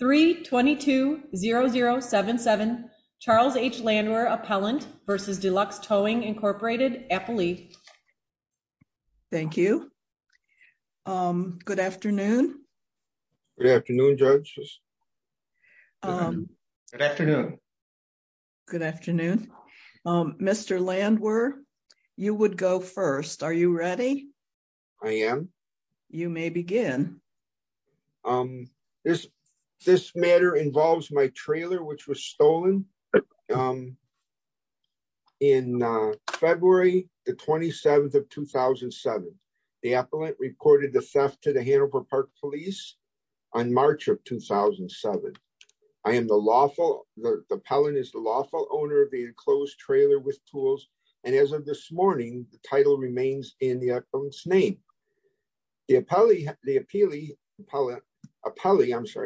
322-0077, Charles H. Landwer, Appellant, v. Deluxe Towing, Inc., Appalachia. Thank you. Good afternoon. Good afternoon, judges. Good afternoon. Good afternoon. Mr. Landwer, you would go first. Are you ready? I am. You may begin. This matter involves my trailer which was stolen in February, the 27th of 2007. The appellant reported the theft to the Hanover Park Police on March of 2007. I am the lawful, the appellant is the lawful owner of the enclosed trailer with tools, and as of this morning, the title remains in the appellant's name. The appellee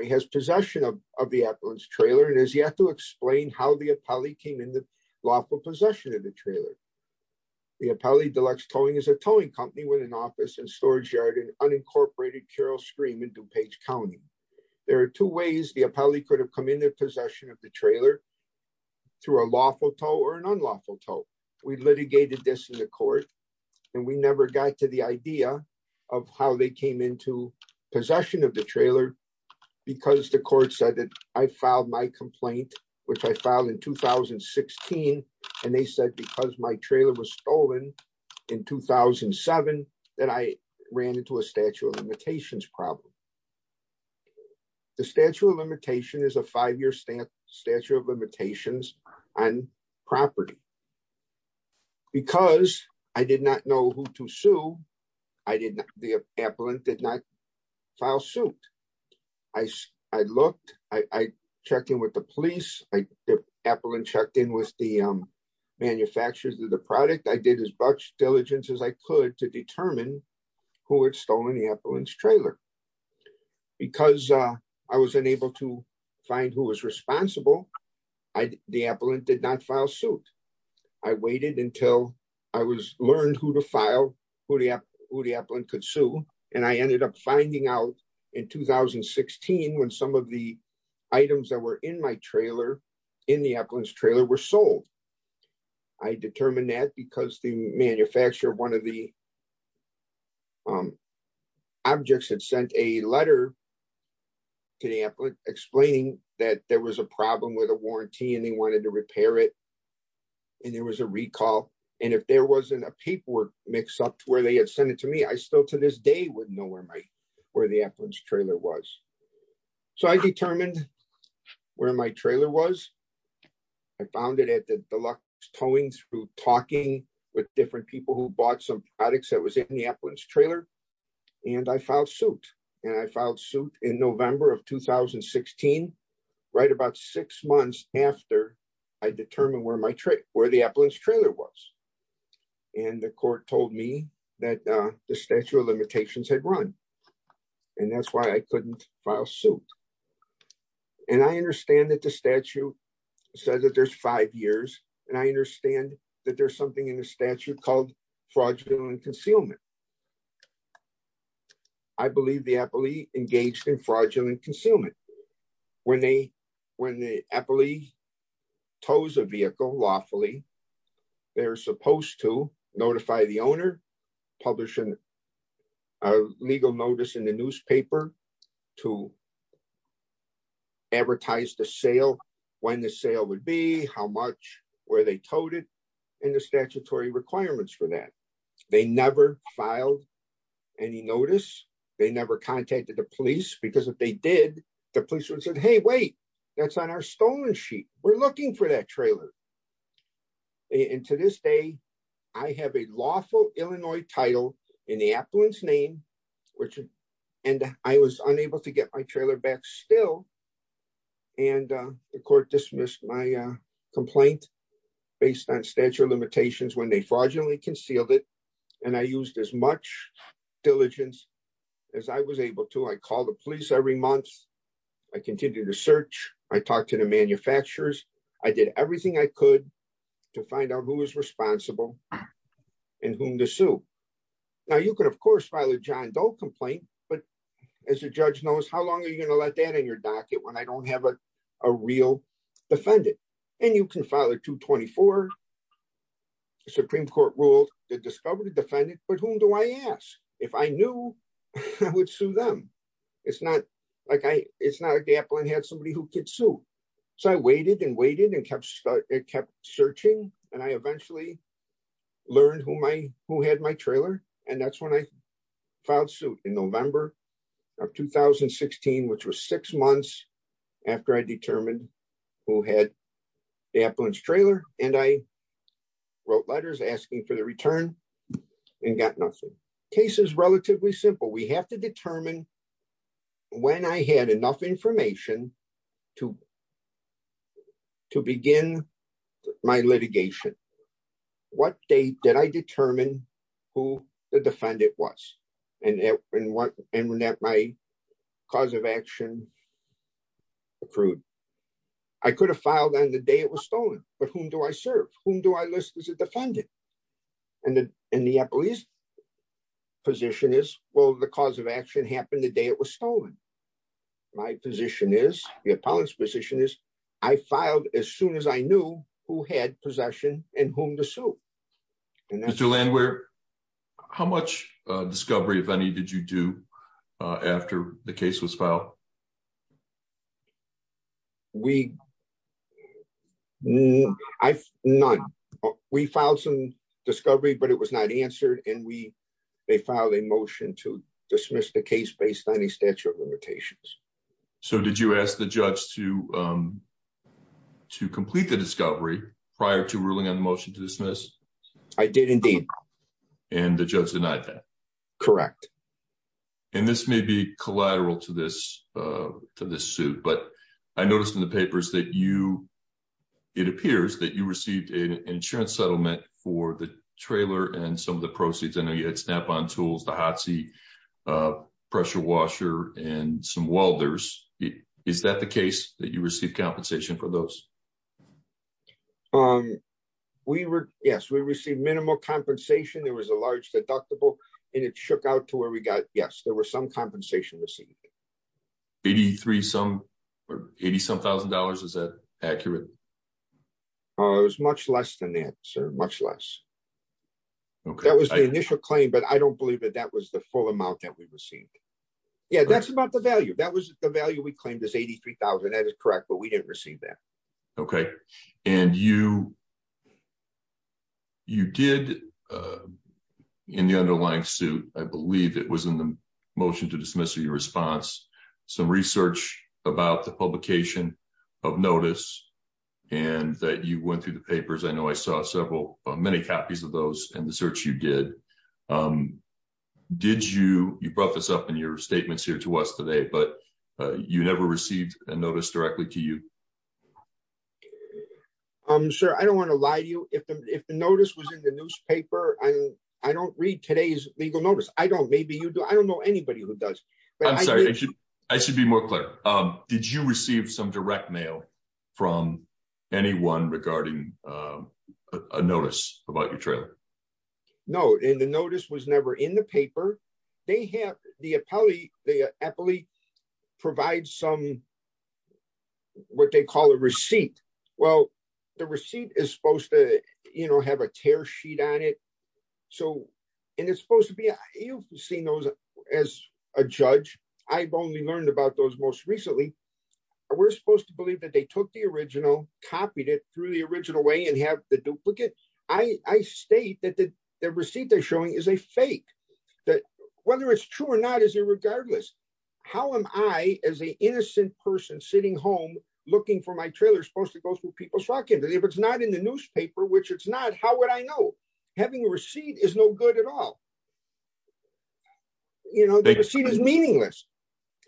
has possession of the appellant's trailer and has yet to explain how the appellee came into lawful possession of the trailer. The appellee, Deluxe Towing, is a towing company with an office and storage yard in unincorporated Carroll Stream in DuPage County. There are two ways the appellee could have come into possession of the trailer, through a lawful tow or an unlawful tow. We litigated this in the court, and we never got to the idea of how they came into possession of the trailer, because the court said that I filed my complaint, which I filed in 2016, and they said because my trailer was stolen in 2007, that I ran into a statute of limitations problem. The statute of limitations is a five-year statute of limitations on property. Because I did not know who to sue, the appellant did not file suit. I looked, I checked in with the police, the appellant checked in with the manufacturers of the product. I did as much diligence as I could to determine who had stolen the appellant's trailer. Because I was unable to find who was responsible, the appellant did not file suit. I waited until I learned who to file, who the appellant could sue, and I ended up finding out in 2016 when some of the items that were in my trailer, in the appellant's trailer, were sold. I determined that because the manufacturer of one of the objects had sent a letter to the appellant explaining that there was a problem with a warranty and they wanted to repair it, and there was a recall. And if there wasn't a paperwork mix-up where they had sent it to me, I still to this day wouldn't know where the appellant's trailer was. So I determined where my trailer was. I found it at the deluxe towing through talking with different people who bought some products that was in the appellant's trailer, and I filed suit. And I filed suit in November of 2016, right about six months after I determined where the appellant's trailer was. And the court told me that the statute of limitations had run. And that's why I couldn't file suit. And I understand that the statute says that there's five years, and I understand that there's something in the statute called fraudulent concealment. I believe the appellee engaged in fraudulent concealment. When the appellee tows a vehicle lawfully, they're supposed to notify the owner, publish a legal notice in the newspaper to advertise the sale, when the sale would be, how much, where they towed it, and the statutory requirements for that. They never filed any notice. They never contacted the police because if they did, the police would say, hey, wait, that's on our stolen sheet. We're looking for that trailer. And to this day, I have a lawful Illinois title in the appellant's name, and I was unable to get my trailer back still. And the court dismissed my complaint based on statute of limitations when they fraudulently concealed it. And I used as much diligence as I was able to. I called the police every month. I continued to search. I talked to the manufacturers. I did everything I could to find out who was responsible and whom to sue. Now, you could, of course, file a John Doe complaint, but as a judge knows, how long are you going to let that in your docket when I don't have a real defendant? And you can file a 224. The Supreme Court ruled, they discovered a defendant, but whom do I ask? If I knew, I would sue them. It's not like the appellant had somebody who could sue. So I waited and waited and kept searching, and I eventually learned who had my trailer. And that's when I filed suit in November of 2016, which was six months after I determined who had the appellant's trailer. And I wrote letters asking for the return and got nothing. Case is relatively simple. We have to determine when I had enough information to begin my litigation. What date did I determine who the defendant was and when my cause of action accrued? I could have filed on the day it was stolen, but whom do I serve? Whom do I list as a defendant? And the appellee's position is, well, the cause of action happened the day it was stolen. My position is, the appellant's position is, I filed as soon as I knew who had possession and whom to sue. Mr. Landwehr, how much discovery, if any, did you do after the case was filed? None. We filed some discovery, but it was not answered, and they filed a motion to dismiss the case based on a statute of limitations. So did you ask the judge to complete the discovery prior to ruling on the motion to dismiss? I did, indeed. And the judge denied that? Correct. And this may be collateral to this suit, but I noticed in the papers that you, it appears that you received an insurance settlement for the trailer and some of the proceeds. I know you had Snap-on tools, the hot seat, pressure washer, and some welders. Is that the case, that you received compensation for those? We were, yes, we received minimal compensation. There was a large deductible, and it shook out to where we got, yes, there was some compensation received. Eighty-three some, or eighty-some thousand dollars, is that accurate? It was much less than that, sir, much less. That was the initial claim, but I don't believe that that was the full amount that we received. Yeah, that's about the value. That was the value we claimed was $83,000. That is correct, but we didn't receive that. Okay. And you, you did, in the underlying suit, I believe it was in the motion to dismiss or your response, some research about the publication of notice, and that you went through the papers. I know I saw several, many copies of those in the search you did. Did you, you brought this up in your statements here to us today, but you never received a notice directly to you? Sir, I don't want to lie to you. If the notice was in the newspaper, I don't read today's legal notice. I don't. Maybe you do. I don't know anybody who does. I'm sorry, I should be more clear. Did you receive some direct mail from anyone regarding a notice about your trailer? No, and the notice was never in the paper. They have, the appellee, the appellee provides some, what they call a receipt. Well, the receipt is supposed to, you know, have a tear sheet on it. So, and it's supposed to be, you've seen those as a judge. I've only learned about those most recently. We're supposed to believe that they took the original, copied it through the original way and have the duplicate. I state that the receipt they're showing is a fake. That whether it's true or not is irregardless. How am I, as an innocent person sitting home looking for my trailer supposed to go through people's walk-in? If it's not in the newspaper, which it's not, how would I know? Having a receipt is no good at all. You know, the receipt is meaningless.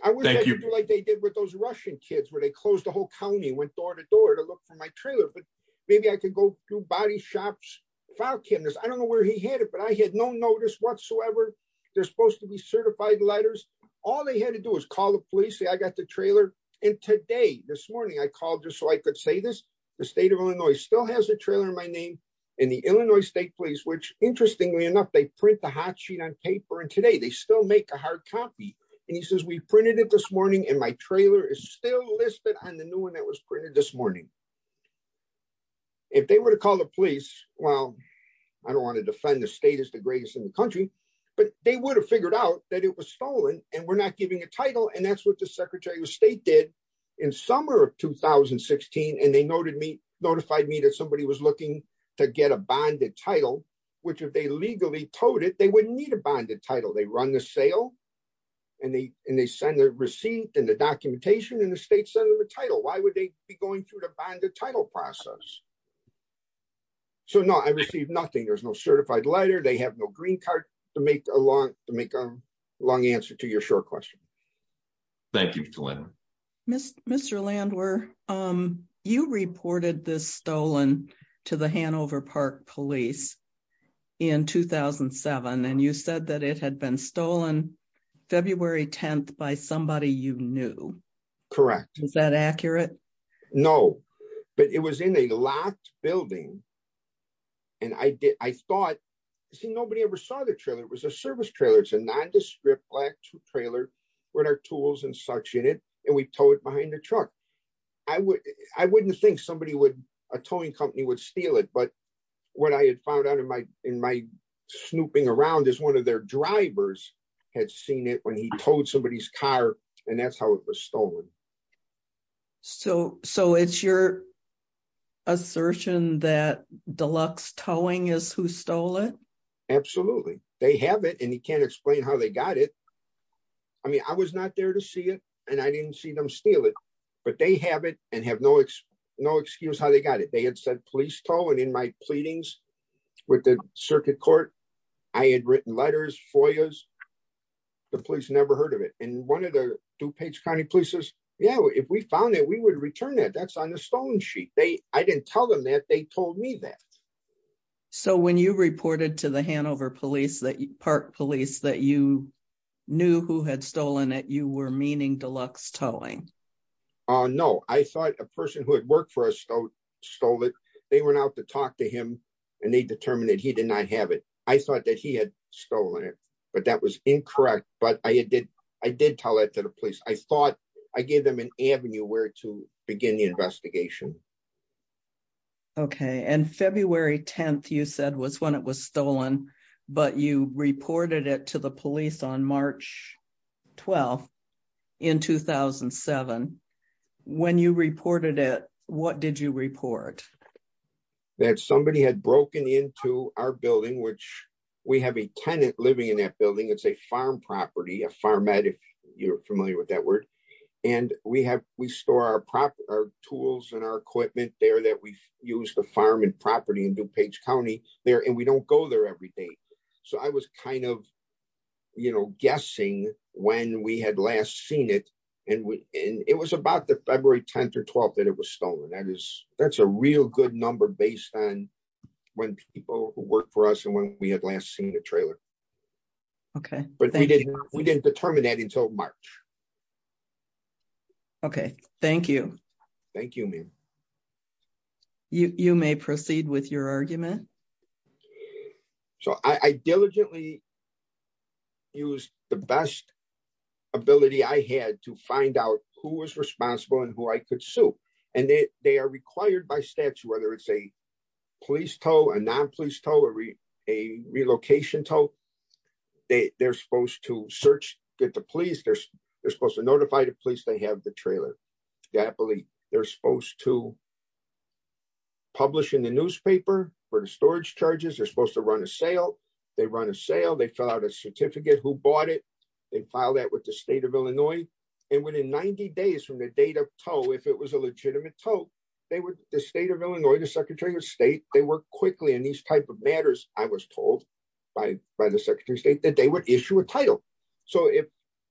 I wouldn't have to do like they did with those Russian kids where they closed the whole county, went door to door to look for my trailer. But maybe I could go through body shops, file cabinets. I don't know where he hid it, but I had no notice whatsoever. They're supposed to be certified letters. All they had to do was call the police. See, I got the trailer. And today, this morning, I called just so I could say this. The state of Illinois still has the trailer in my name and the Illinois State Police, which interestingly enough, they print the hot sheet on paper. And today, they still make a hard copy. And he says, we printed it this morning and my trailer is still listed on the new one that was printed this morning. If they were to call the police, well, I don't want to defend the state as the greatest in the country, but they would have figured out that it was stolen and we're not giving a title. And that's what the Secretary of State did in summer of 2016. And they notified me that somebody was looking to get a bonded title, which if they legally towed it, they wouldn't need a bonded title. They run the sale and they send the receipt and the documentation and the state sent them a title. Why would they be going through the bonded title process? So, no, I received nothing. There's no certified letter. They have no green card to make a long answer to your short question. Thank you, Mr. Landwehr. Mr. Landwehr, you reported this stolen to the Hanover Park Police in 2007, and you said that it had been stolen February 10th by somebody you knew. Correct. Is that accurate? No, but it was in a locked building. And I thought, see, nobody ever saw the trailer. It was a service trailer. It's a non-descript black trailer with our tools and such in it. And we towed it behind the truck. I wouldn't think somebody would, a towing company would steal it. But what I had found out in my snooping around is one of their drivers had seen it when he towed somebody's car, and that's how it was stolen. So it's your assertion that deluxe towing is who stole it? Absolutely. They have it, and you can't explain how they got it. I mean, I was not there to see it, and I didn't see them steal it, but they have it and have no excuse how they got it. They had said police tow, and in my pleadings with the circuit court, I had written letters, FOIAs. The police never heard of it, and one of the DuPage County police says, yeah, if we found it, we would return it. That's on the stolen sheet. I didn't tell them that. They told me that. So when you reported to the Hanover Park Police that you knew who had stolen it, you were meaning deluxe towing? No, I thought a person who had worked for us stole it. They went out to talk to him, and they determined that he did not have it. I thought that he had stolen it, but that was incorrect. But I did tell that to the police. I thought I gave them an avenue where to begin the investigation. Okay, and February 10th, you said, was when it was stolen, but you reported it to the police on March 12th in 2007. When you reported it, what did you report? That somebody had broken into our building, which we have a tenant living in that building. It's a farm property, a farmette, if you're familiar with that word. And we store our tools and our equipment there that we use to farm and property in DuPage County there, and we don't go there every day. So I was kind of, you know, guessing when we had last seen it, and it was about the February 10th or 12th that it was stolen. That's a real good number based on when people worked for us and when we had last seen the trailer. Okay. But we didn't determine that until March. Okay, thank you. Thank you, ma'am. You may proceed with your argument. So I diligently used the best ability I had to find out who was responsible and who I could sue. And they are required by statute, whether it's a police tow, a non-police tow, a relocation tow. They're supposed to search, get the police, they're supposed to notify the police they have the trailer. They're supposed to publish in the newspaper for the storage charges. They're supposed to run a sale. They run a sale. They fill out a certificate who bought it. They file that with the state of Illinois. And within 90 days from the date of tow, if it was a legitimate tow, the state of Illinois, the Secretary of State, they work quickly in these type of matters, I was told by the Secretary of State, that they would issue a title. So if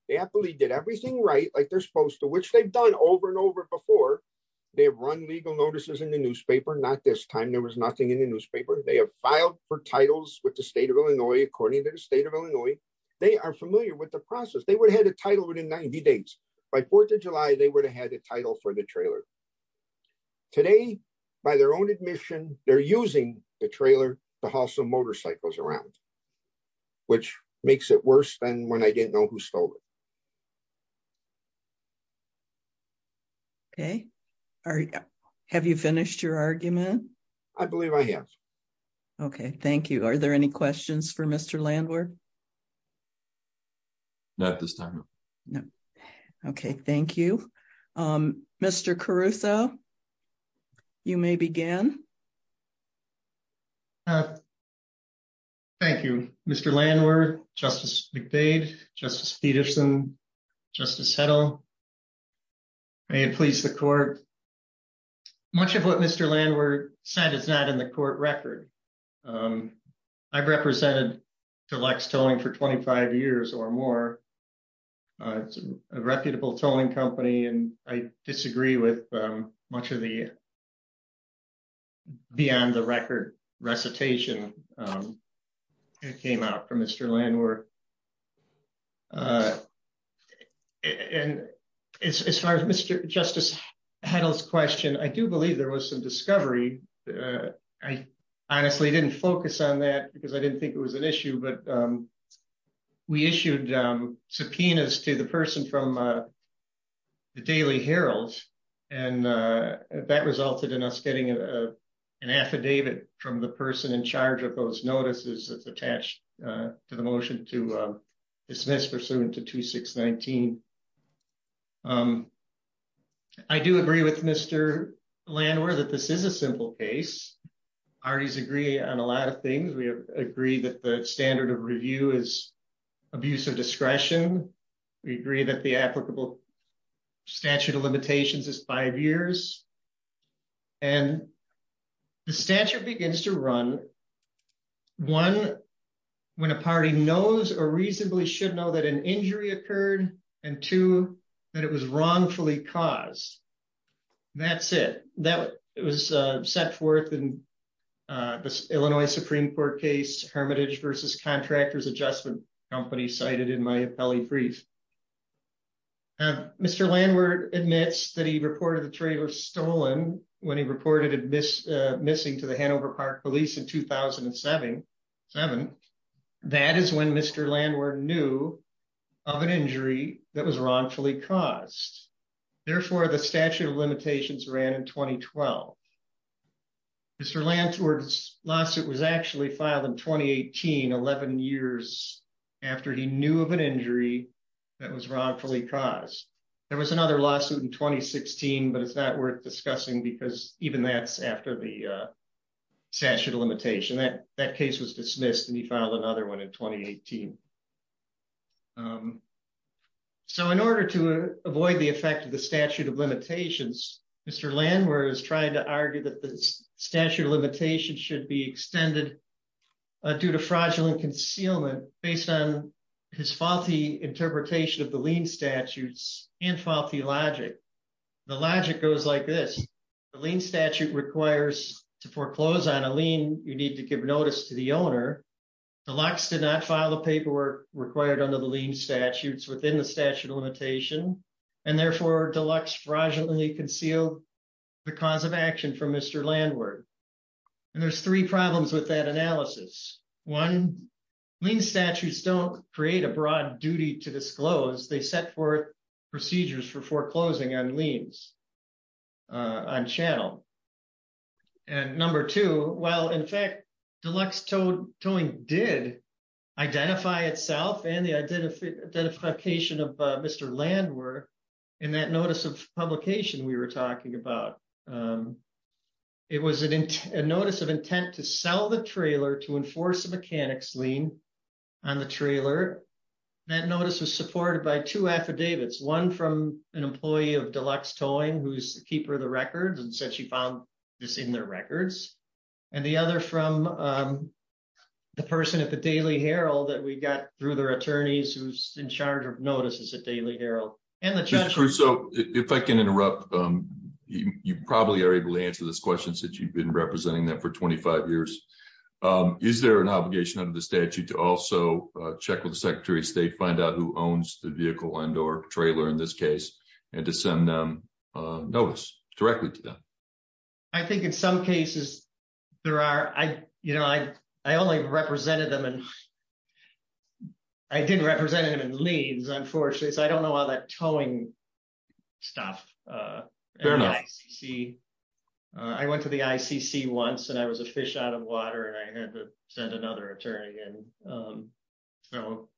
they happily did everything right, like they're supposed to, which they've done over and over before, they have run legal notices in the newspaper. Not this time. There was nothing in the newspaper. They have filed for titles with the state of Illinois, according to the state of Illinois. They are familiar with the process. They would have had a title within 90 days. By 4th of July, they would have had a title for the trailer. Today, by their own admission, they're using the trailer to haul some motorcycles around, which makes it worse than when I didn't know who stole it. Okay. All right. Have you finished your argument. I believe I have. Okay, thank you. Are there any questions for Mr landlord. Not this time. No. Okay, thank you. Mr Caruso. You may begin. Thank you, Mr landlord, justice, big big justice Peterson. Just to settle. And please the court. Much of what Mr landlord said it's not in the court record. I've represented to Lex towing for 25 years or more. It's a reputable towing company and I disagree with much of the beyond the record recitation came out from Mr landlord. And as far as Mr. Justice handles question I do believe there was some discovery. I honestly didn't focus on that because I didn't think it was an issue but we issued subpoenas to the person from the Daily Herald, and that resulted in us getting an affidavit from the person in charge of those notices that's attached to the motion. To dismiss pursuant to 2619. I do agree with Mr landlord that this is a simple case parties agree on a lot of things we agree that the standard of review is abusive discretion. We agree that the applicable statute of limitations is five years. And the statute begins to run. One, when a party knows or reasonably should know that an injury occurred, and to that it was wrongfully caused. That's it, that was set forth in this Illinois Supreme Court case hermitage versus contractors adjustment company cited in my belly brief. Mr landlord admits that he reported the trailer stolen when he reported it miss missing to the Hanover Park police in 2007, seven. That is when Mr landlord knew of an injury that was wrongfully caused. Therefore the statute of limitations ran in 2012. Mr landlord's lawsuit was actually filed in 2018 11 years after he knew of an injury that was wrongfully caused. There was another lawsuit in 2016 but it's not worth discussing because even that's after the statute of limitation that that case was dismissed and he found another one in 2018. So in order to avoid the effect of the statute of limitations, Mr landlord is trying to argue that the statute of limitations should be extended due to fraudulent concealment, based on his faulty interpretation of the lien statutes and faulty logic. The logic goes like this. The lien statute requires to foreclose on a lien, you need to give notice to the owner. The locks did not follow paperwork required under the lien statutes within the statute of limitation, and therefore deluxe fraudulently conceal the cause of action for Mr landlord. And there's three problems with that analysis. One lien statutes don't create a broad duty to disclose they set forth procedures for foreclosing on liens on channel. And number two, well in fact, deluxe towing did identify itself and the identification of Mr landlord in that notice of publication we were talking about. It was a notice of intent to sell the trailer to enforce the mechanics lien on the trailer. That notice was supported by two affidavits, one from an employee of deluxe towing who's the keeper of the records and said she found this in their records. And the other from the person at the Daily Herald that we got through their attorneys who's in charge of notices at Daily Herald. So, if I can interrupt. You probably are able to answer this question since you've been representing them for 25 years. Is there an obligation under the statute to also check with the Secretary of State find out who owns the vehicle and or trailer in this case, and to send them notice directly to them. I think in some cases, there are I, you know, I, I only represented them and I didn't represent him and leads unfortunately so I don't know all that towing stuff. See, I went to the ICC once and I was a fish out of water and I had to send another attorney and. So,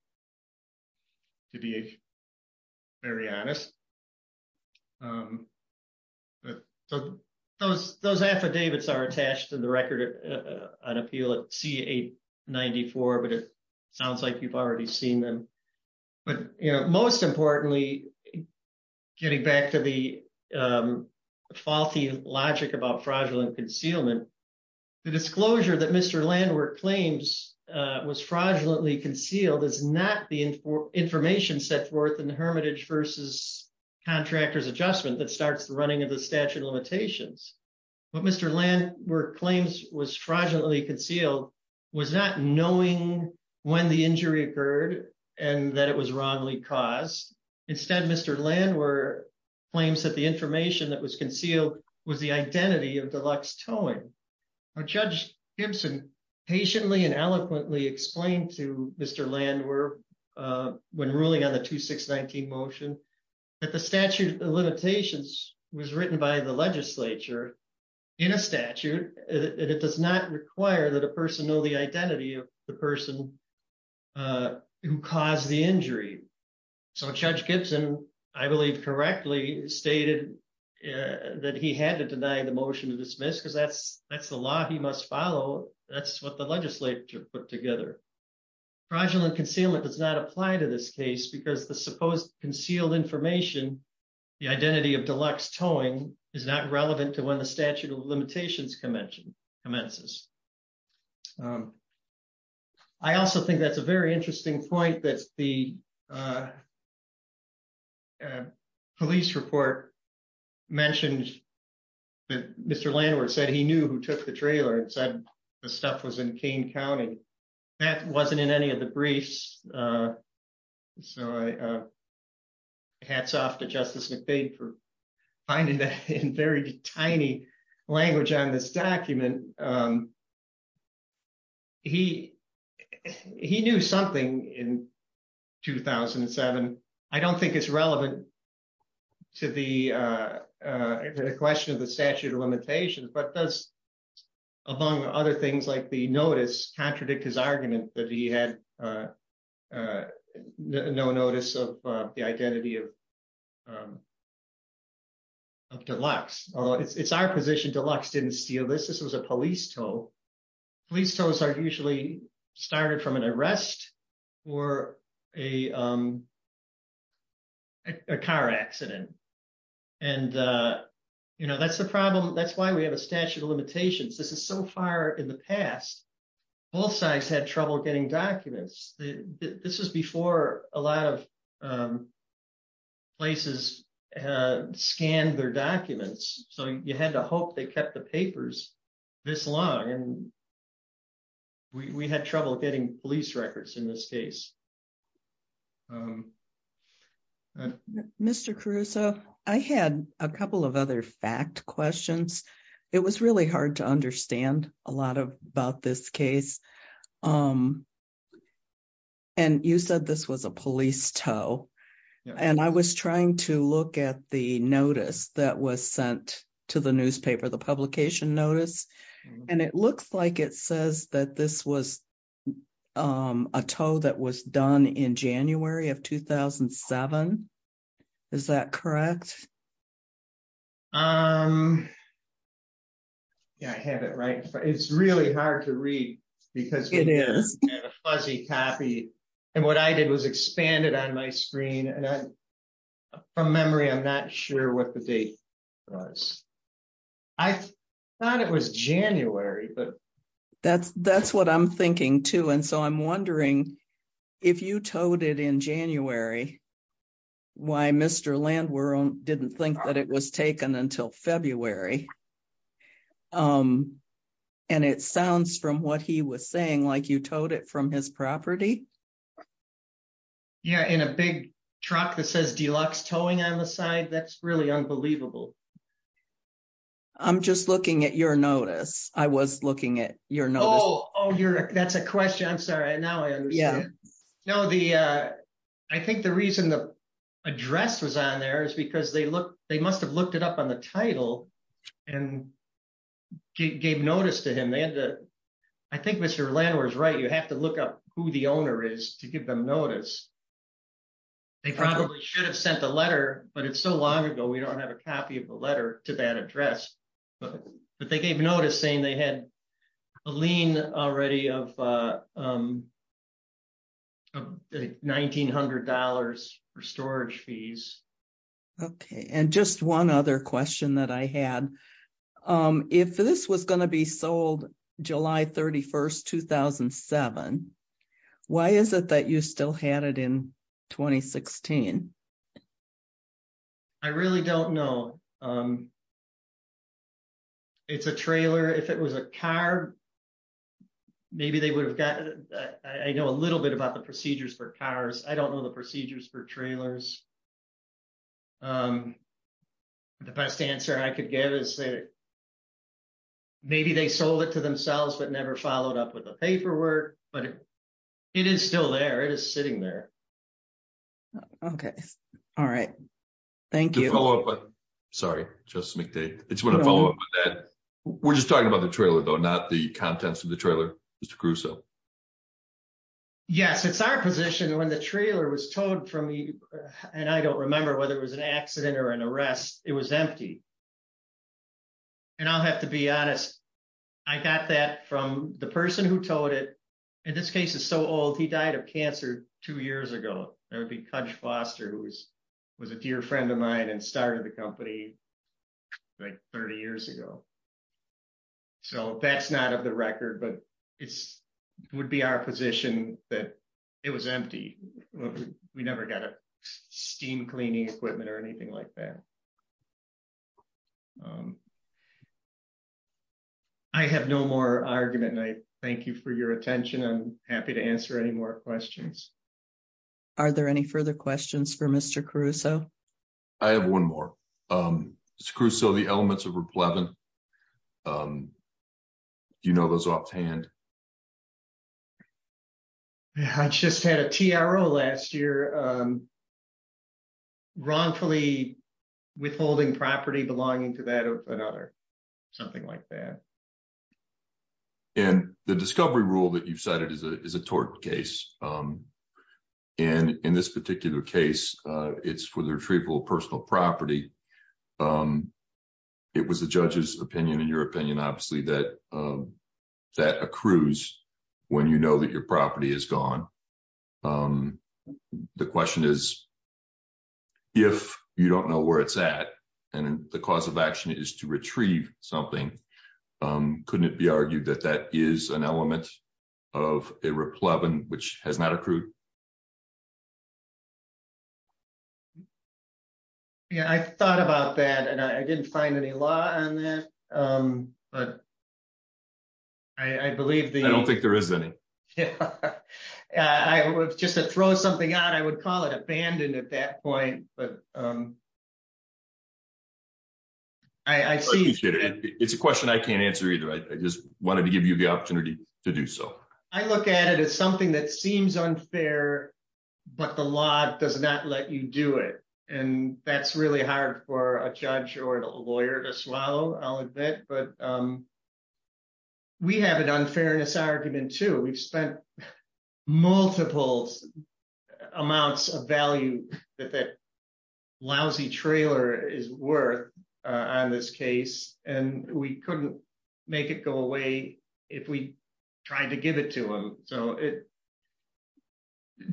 to be very honest. So, those, those affidavits are attached to the record on appeal at CA 94 but it sounds like you've already seen them. But, you know, most importantly, getting back to the faulty logic about fraudulent concealment. The disclosure that Mr land where claims was fraudulently concealed is not the information set forth in the hermitage versus contractors adjustment that starts the running of the statute of limitations. But Mr land where claims was fraudulently concealed was not knowing when the injury occurred, and that it was wrongly caused. Instead, Mr land where claims that the information that was concealed was the identity of deluxe towing. Judge Gibson patiently and eloquently explained to Mr land where when ruling on the to 619 motion that the statute of limitations was written by the legislature in a statute, and it does not require that a person know the identity of the person who caused the injury. So Judge Gibson, I believe correctly stated that he had to deny the motion to dismiss because that's, that's the law he must follow. That's what the legislature put together fraudulent concealment does not apply to this case because the supposed concealed information, the identity of deluxe towing is not relevant to when the statute of limitations convention commences. I also think that's a very interesting point that's the police report mentioned that Mr landlord said he knew who took the trailer and said, the stuff was in Kane County. That wasn't in any of the briefs. Hats off to Justice McVeigh for finding that in very tiny language on this document. He, he knew something in 2007. I don't think it's relevant to the question of the statute of limitations but does, among other things like the notice contradict his argument that he had no notice of the identity of deluxe, although it's our position deluxe didn't steal this, this was a police tow. Police tows are usually started from an arrest or a car accident. And, you know, that's the problem. That's why we have a statute of limitations. This is so far in the past, both sides had trouble getting documents that this is before a lot of places, scan their documents, so you had to hope they kept the papers. This long and we had trouble getting police records in this case. Um, Mr Caruso, I had a couple of other fact questions. It was really hard to understand a lot of about this case. Um, and you said this was a police tow. And I was trying to look at the notice that was sent to the newspaper the publication notice, and it looks like it says that this was a tow that was done in January of 2007. Is that correct. Um, I have it right, but it's really hard to read, because it is fuzzy copy. And what I did was expanded on my screen and from memory I'm not sure what the date was. I thought it was January but that's that's what I'm thinking too and so I'm wondering if you told it in January. Why Mr land we're on didn't think that it was taken until February. Um, and it sounds from what he was saying like you told it from his property. Yeah, in a big truck that says deluxe towing on the side that's really unbelievable. I'm just looking at your notice, I was looking at your know oh you're, that's a question I'm sorry I now I know the. I think the reason the address was on there is because they look, they must have looked it up on the title and gave notice to him they had to. I think Mr landlord is right you have to look up who the owner is to give them notice. They probably should have sent a letter, but it's so long ago we don't have a copy of the letter to that address, but they gave notice saying they had a lien already of $1,900 for storage fees. Okay, and just one other question that I had. If this was going to be sold July 31 2007. Why is it that you still had it in 2016. I really don't know. It's a trailer if it was a car. Maybe they would have gotten. I know a little bit about the procedures for cars, I don't know the procedures for trailers. The best answer I could give is that. Maybe they sold it to themselves, but never followed up with the paperwork, but it. It is still there it is sitting there. Okay. All right. Thank you. Sorry, just make the, it's going to follow up with that. We're just talking about the trailer though not the contents of the trailer. Mr. Yes, it's our position when the trailer was told from me, and I don't remember whether it was an accident or an arrest, it was empty. And I'll have to be honest. I got that from the person who told it. In this case is so old he died of cancer, two years ago, that would be coach Foster who was was a dear friend of mine and started the company. Like 30 years ago. So that's not of the record but it's would be our position that it was empty. We never got a steam cleaning equipment or anything like that. I have no more argument and I thank you for your attention I'm happy to answer any more questions. Are there any further questions for Mr Caruso. I have one more. Screw so the elements of replacement. You know those offhand. I just had a TRO last year. wrongfully withholding property belonging to that of another, something like that. And the discovery rule that you've cited is a is a tort case. And in this particular case, it's for the retrieval of personal property. It was the judges opinion in your opinion, obviously that that accrues. When you know that your property is gone. The question is, if you don't know where it's at. And the cause of action is to retrieve something. Couldn't it be argued that that is an element of a reply which has not accrued. Yeah, I thought about that and I didn't find any law on that. I believe that I don't think there is any. I was just to throw something out I would call it abandoned at that point, but I see it's a question I can't answer either I just wanted to give you the opportunity to do so. I look at it as something that seems unfair, but the law does not let you do it. And that's really hard for a judge or a lawyer to swallow, I'll admit, but we have an unfairness argument to we've spent multiple amounts of value that that lousy trailer is worth on this case, and we couldn't make it go away. If we tried to give it to him, so it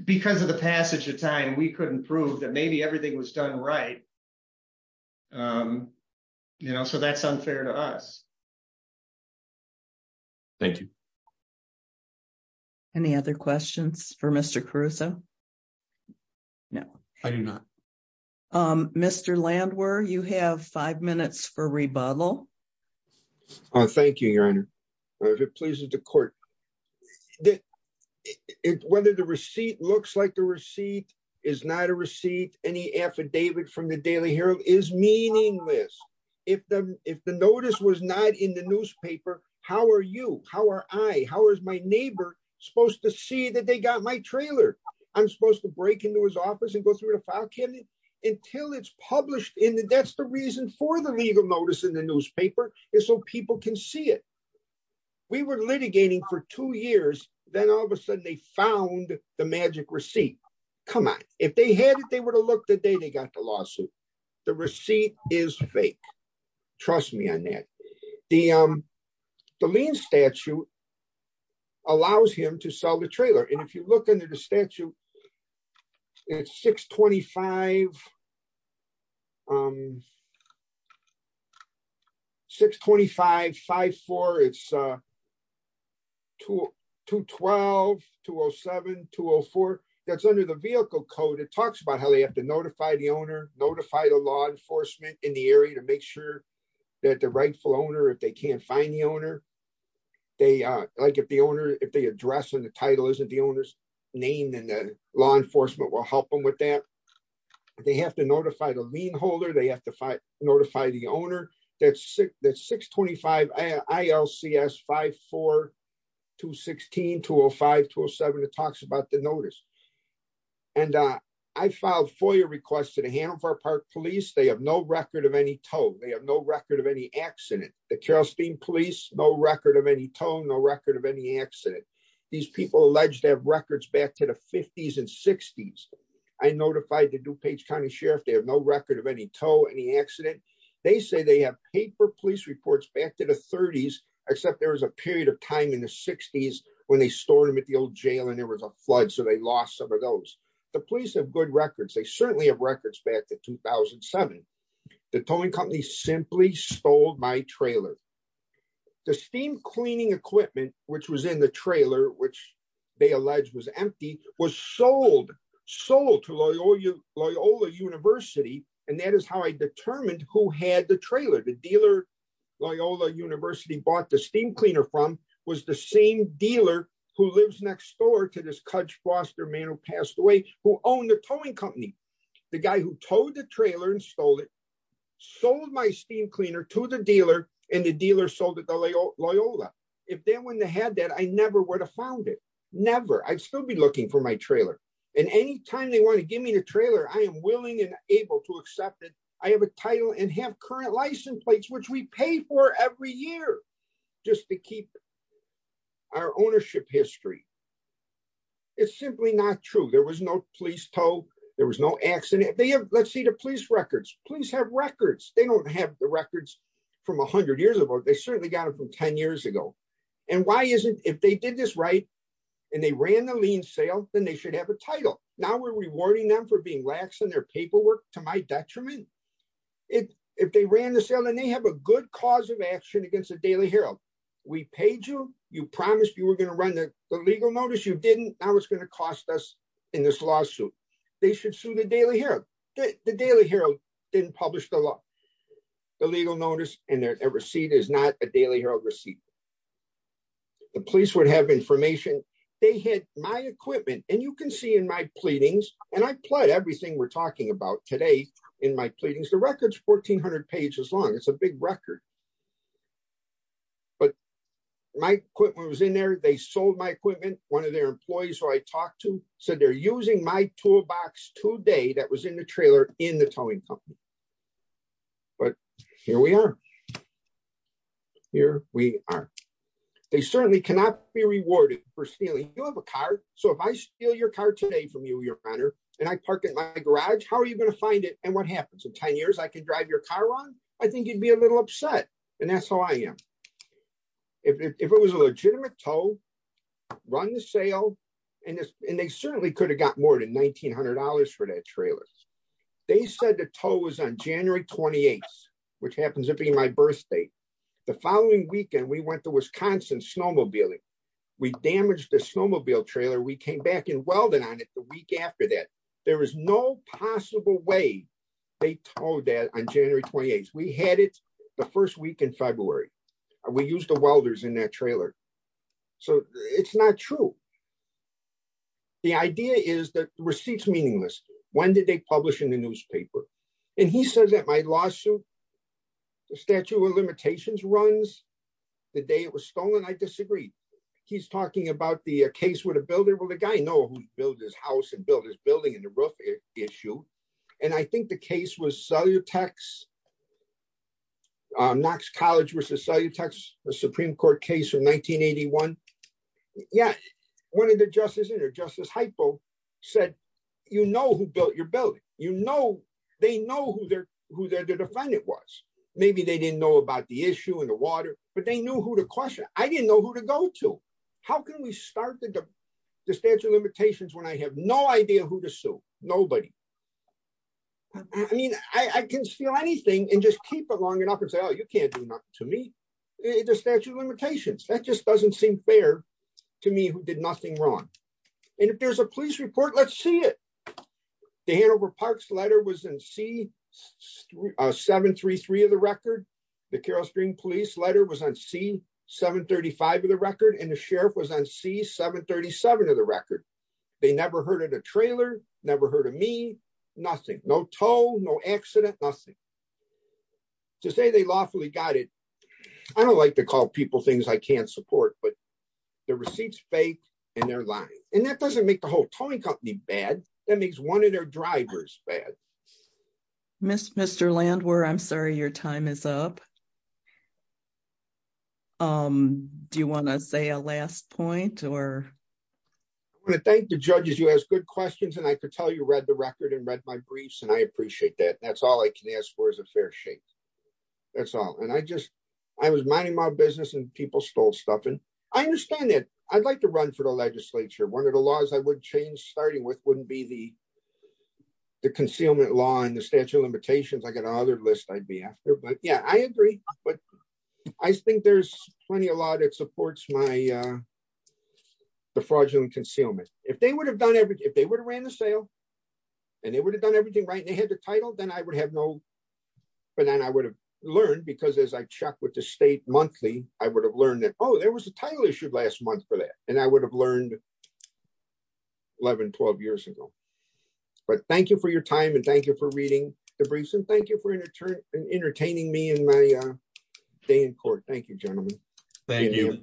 because of the passage of time we couldn't prove that maybe everything was done right. You know, so that's unfair to us. Thank you. Any other questions for Mr Caruso. No, I do not. Mr land where you have five minutes for rebuttal. Thank you, Your Honor, if it pleases the court. Whether the receipt looks like the receipt is not a receipt, any affidavit from the Daily Herald is meaningless. If the, if the notice was not in the newspaper, how are you, how are I, how is my neighbor supposed to see that they got my trailer. I'm supposed to break into his office and go through the file cabinet until it's published in the that's the reason for the legal notice in the newspaper is so people can see it. We were litigating for two years, then all of a sudden they found the magic receipt. Come on, if they had it they would have looked at day they got the lawsuit. The receipt is fake. Trust me on that. The lean statute allows him to sell the trailer and if you look into the statute. It's 625 625 54 it's to to 12207204, that's under the vehicle code it talks about how they have to notify the owner notify the law enforcement in the area to make sure that the rightful owner if they can't find the owner. They like if the owner, if they address and the title isn't the owner's name and the law enforcement will help them with that. They have to notify the lean holder they have to find notify the owner, that's sick that's 625 ILCS 542 16205 207 it talks about the notice. And I filed for your request to the Hanover Park police they have no record of any told they have no record of any accident, the Charleston police no record of any tone no record of any accident. These people alleged to have records back to the 50s and 60s. I notified the DuPage County Sheriff they have no record of any toe any accident. They say they have paper police reports back to the 30s, except there was a period of time in the 60s, when they store them at the old jail and there was a flood so they lost some of those, the police have good records they certainly have records back to 2007. The towing company simply stole my trailer. The steam cleaning equipment, which was in the trailer which they allege was empty was sold, sold to Loyola, Loyola University, and that is how I determined who had the trailer the dealer Loyola University bought the steam cleaner from was the same sold my steam cleaner to the dealer, and the dealer so that they'll Loyola, if they wouldn't have had that I never would have found it. Never I'd still be looking for my trailer, and anytime they want to give me the trailer I am willing and able to accept it. I have a title and have current license plates which we pay for every year, just to keep our ownership history. It's simply not true there was no police tow. There was no accident, they have, let's see the police records, please have records, they don't have the records from 100 years ago they certainly got it from 10 years ago. And why isn't if they did this right. And they ran the lien sale, then they should have a title. Now we're rewarding them for being lax and their paperwork to my detriment. If they ran the sale and they have a good cause of action against the Daily Herald. We paid you, you promised you were going to run the legal notice you didn't know what's going to cost us in this lawsuit. They should sue the Daily Herald, the Daily Herald didn't publish the law, the legal notice, and their receipt is not a Daily Herald receipt. The police would have information, they had my equipment, and you can see in my pleadings, and I plot everything we're talking about today in my pleadings the records 1400 pages long it's a big record. But my equipment was in there they sold my equipment, one of their employees who I talked to said they're using my toolbox today that was in the trailer in the towing company. But here we are. Here we are. They certainly cannot be rewarded for stealing, you have a car. So if I steal your car today from you, your honor, and I park it in my garage, how are you going to find it and what happens in 10 years I could drive your car wrong. I think you'd be a little upset. And that's how I am. If it was a legitimate tow, run the sale, and they certainly could have got more than $1,900 for that trailer. They said the tow was on January 28, which happens to be my birth date. The following weekend we went to Wisconsin snowmobiling. We damaged the snowmobile trailer we came back and welded on it the week after that. There is no possible way. They told that on January 28 we had it. The first week in February, we use the welders in that trailer. So, it's not true. The idea is that receipts meaningless. When did they publish in the newspaper. And he said that my lawsuit. Statue of limitations runs. The day it was stolen I disagree. He's talking about the case with a building with a guy know who built his house and build his building in the roof issue. And I think the case was cellular tax. Knox College versus cellular tax, the Supreme Court case of 1981. Yeah, one of the justice and justice hypo said, you know who built your building, you know, they know who their, who their defendant was, maybe they didn't know about the issue in the water, but they knew who to question, I didn't know who to go to. How can we start the statute of limitations when I have no idea who to sue. Nobody. I mean, I can steal anything and just keep it long enough and say oh you can't do not to me. It just statute of limitations that just doesn't seem fair to me who did nothing wrong. And if there's a police report let's see it. The Hanover parks letter was in C 733 of the record. The Carol stream police letter was on C 735 of the record and the sheriff was on C 737 of the record. They never heard of the trailer, never heard of me. Nothing, no toll no accident, nothing to say they lawfully got it. I don't like to call people things I can't support but the receipts fake, and they're lying, and that doesn't make the whole towing company bad. That makes one of their drivers bad. Miss Mr land where I'm sorry your time is up. Um, do you want to say a last point or. I want to thank the judges you ask good questions and I could tell you read the record and read my briefs and I appreciate that that's all I can ask for is a fair shake. That's all and I just, I was minding my business and people stole stuff and I understand that I'd like to run for the legislature one of the laws I would change starting with wouldn't be the concealment law and the statute of limitations I got another list I'd be after but yeah I agree, but I think there's plenty a lot it supports my fraudulent concealment, if they would have done everything if they would have ran the sale. And they would have done everything right and they had the title then I would have no. But then I would have learned because as I checked with the state monthly, I would have learned that oh there was a title issued last month for that, and I would have learned. 1112 years ago. But thank you for your time and thank you for reading the briefs and thank you for entertaining me in my day in court. Thank you, gentlemen. Thank you.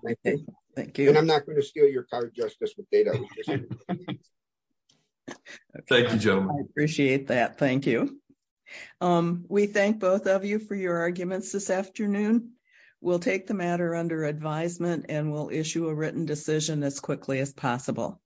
Thank you and I'm not going to steal your car justice with data. Appreciate that. Thank you. We thank both of you for your arguments this afternoon. We'll take the matter under advisement and we'll issue a written decision as quickly as possible.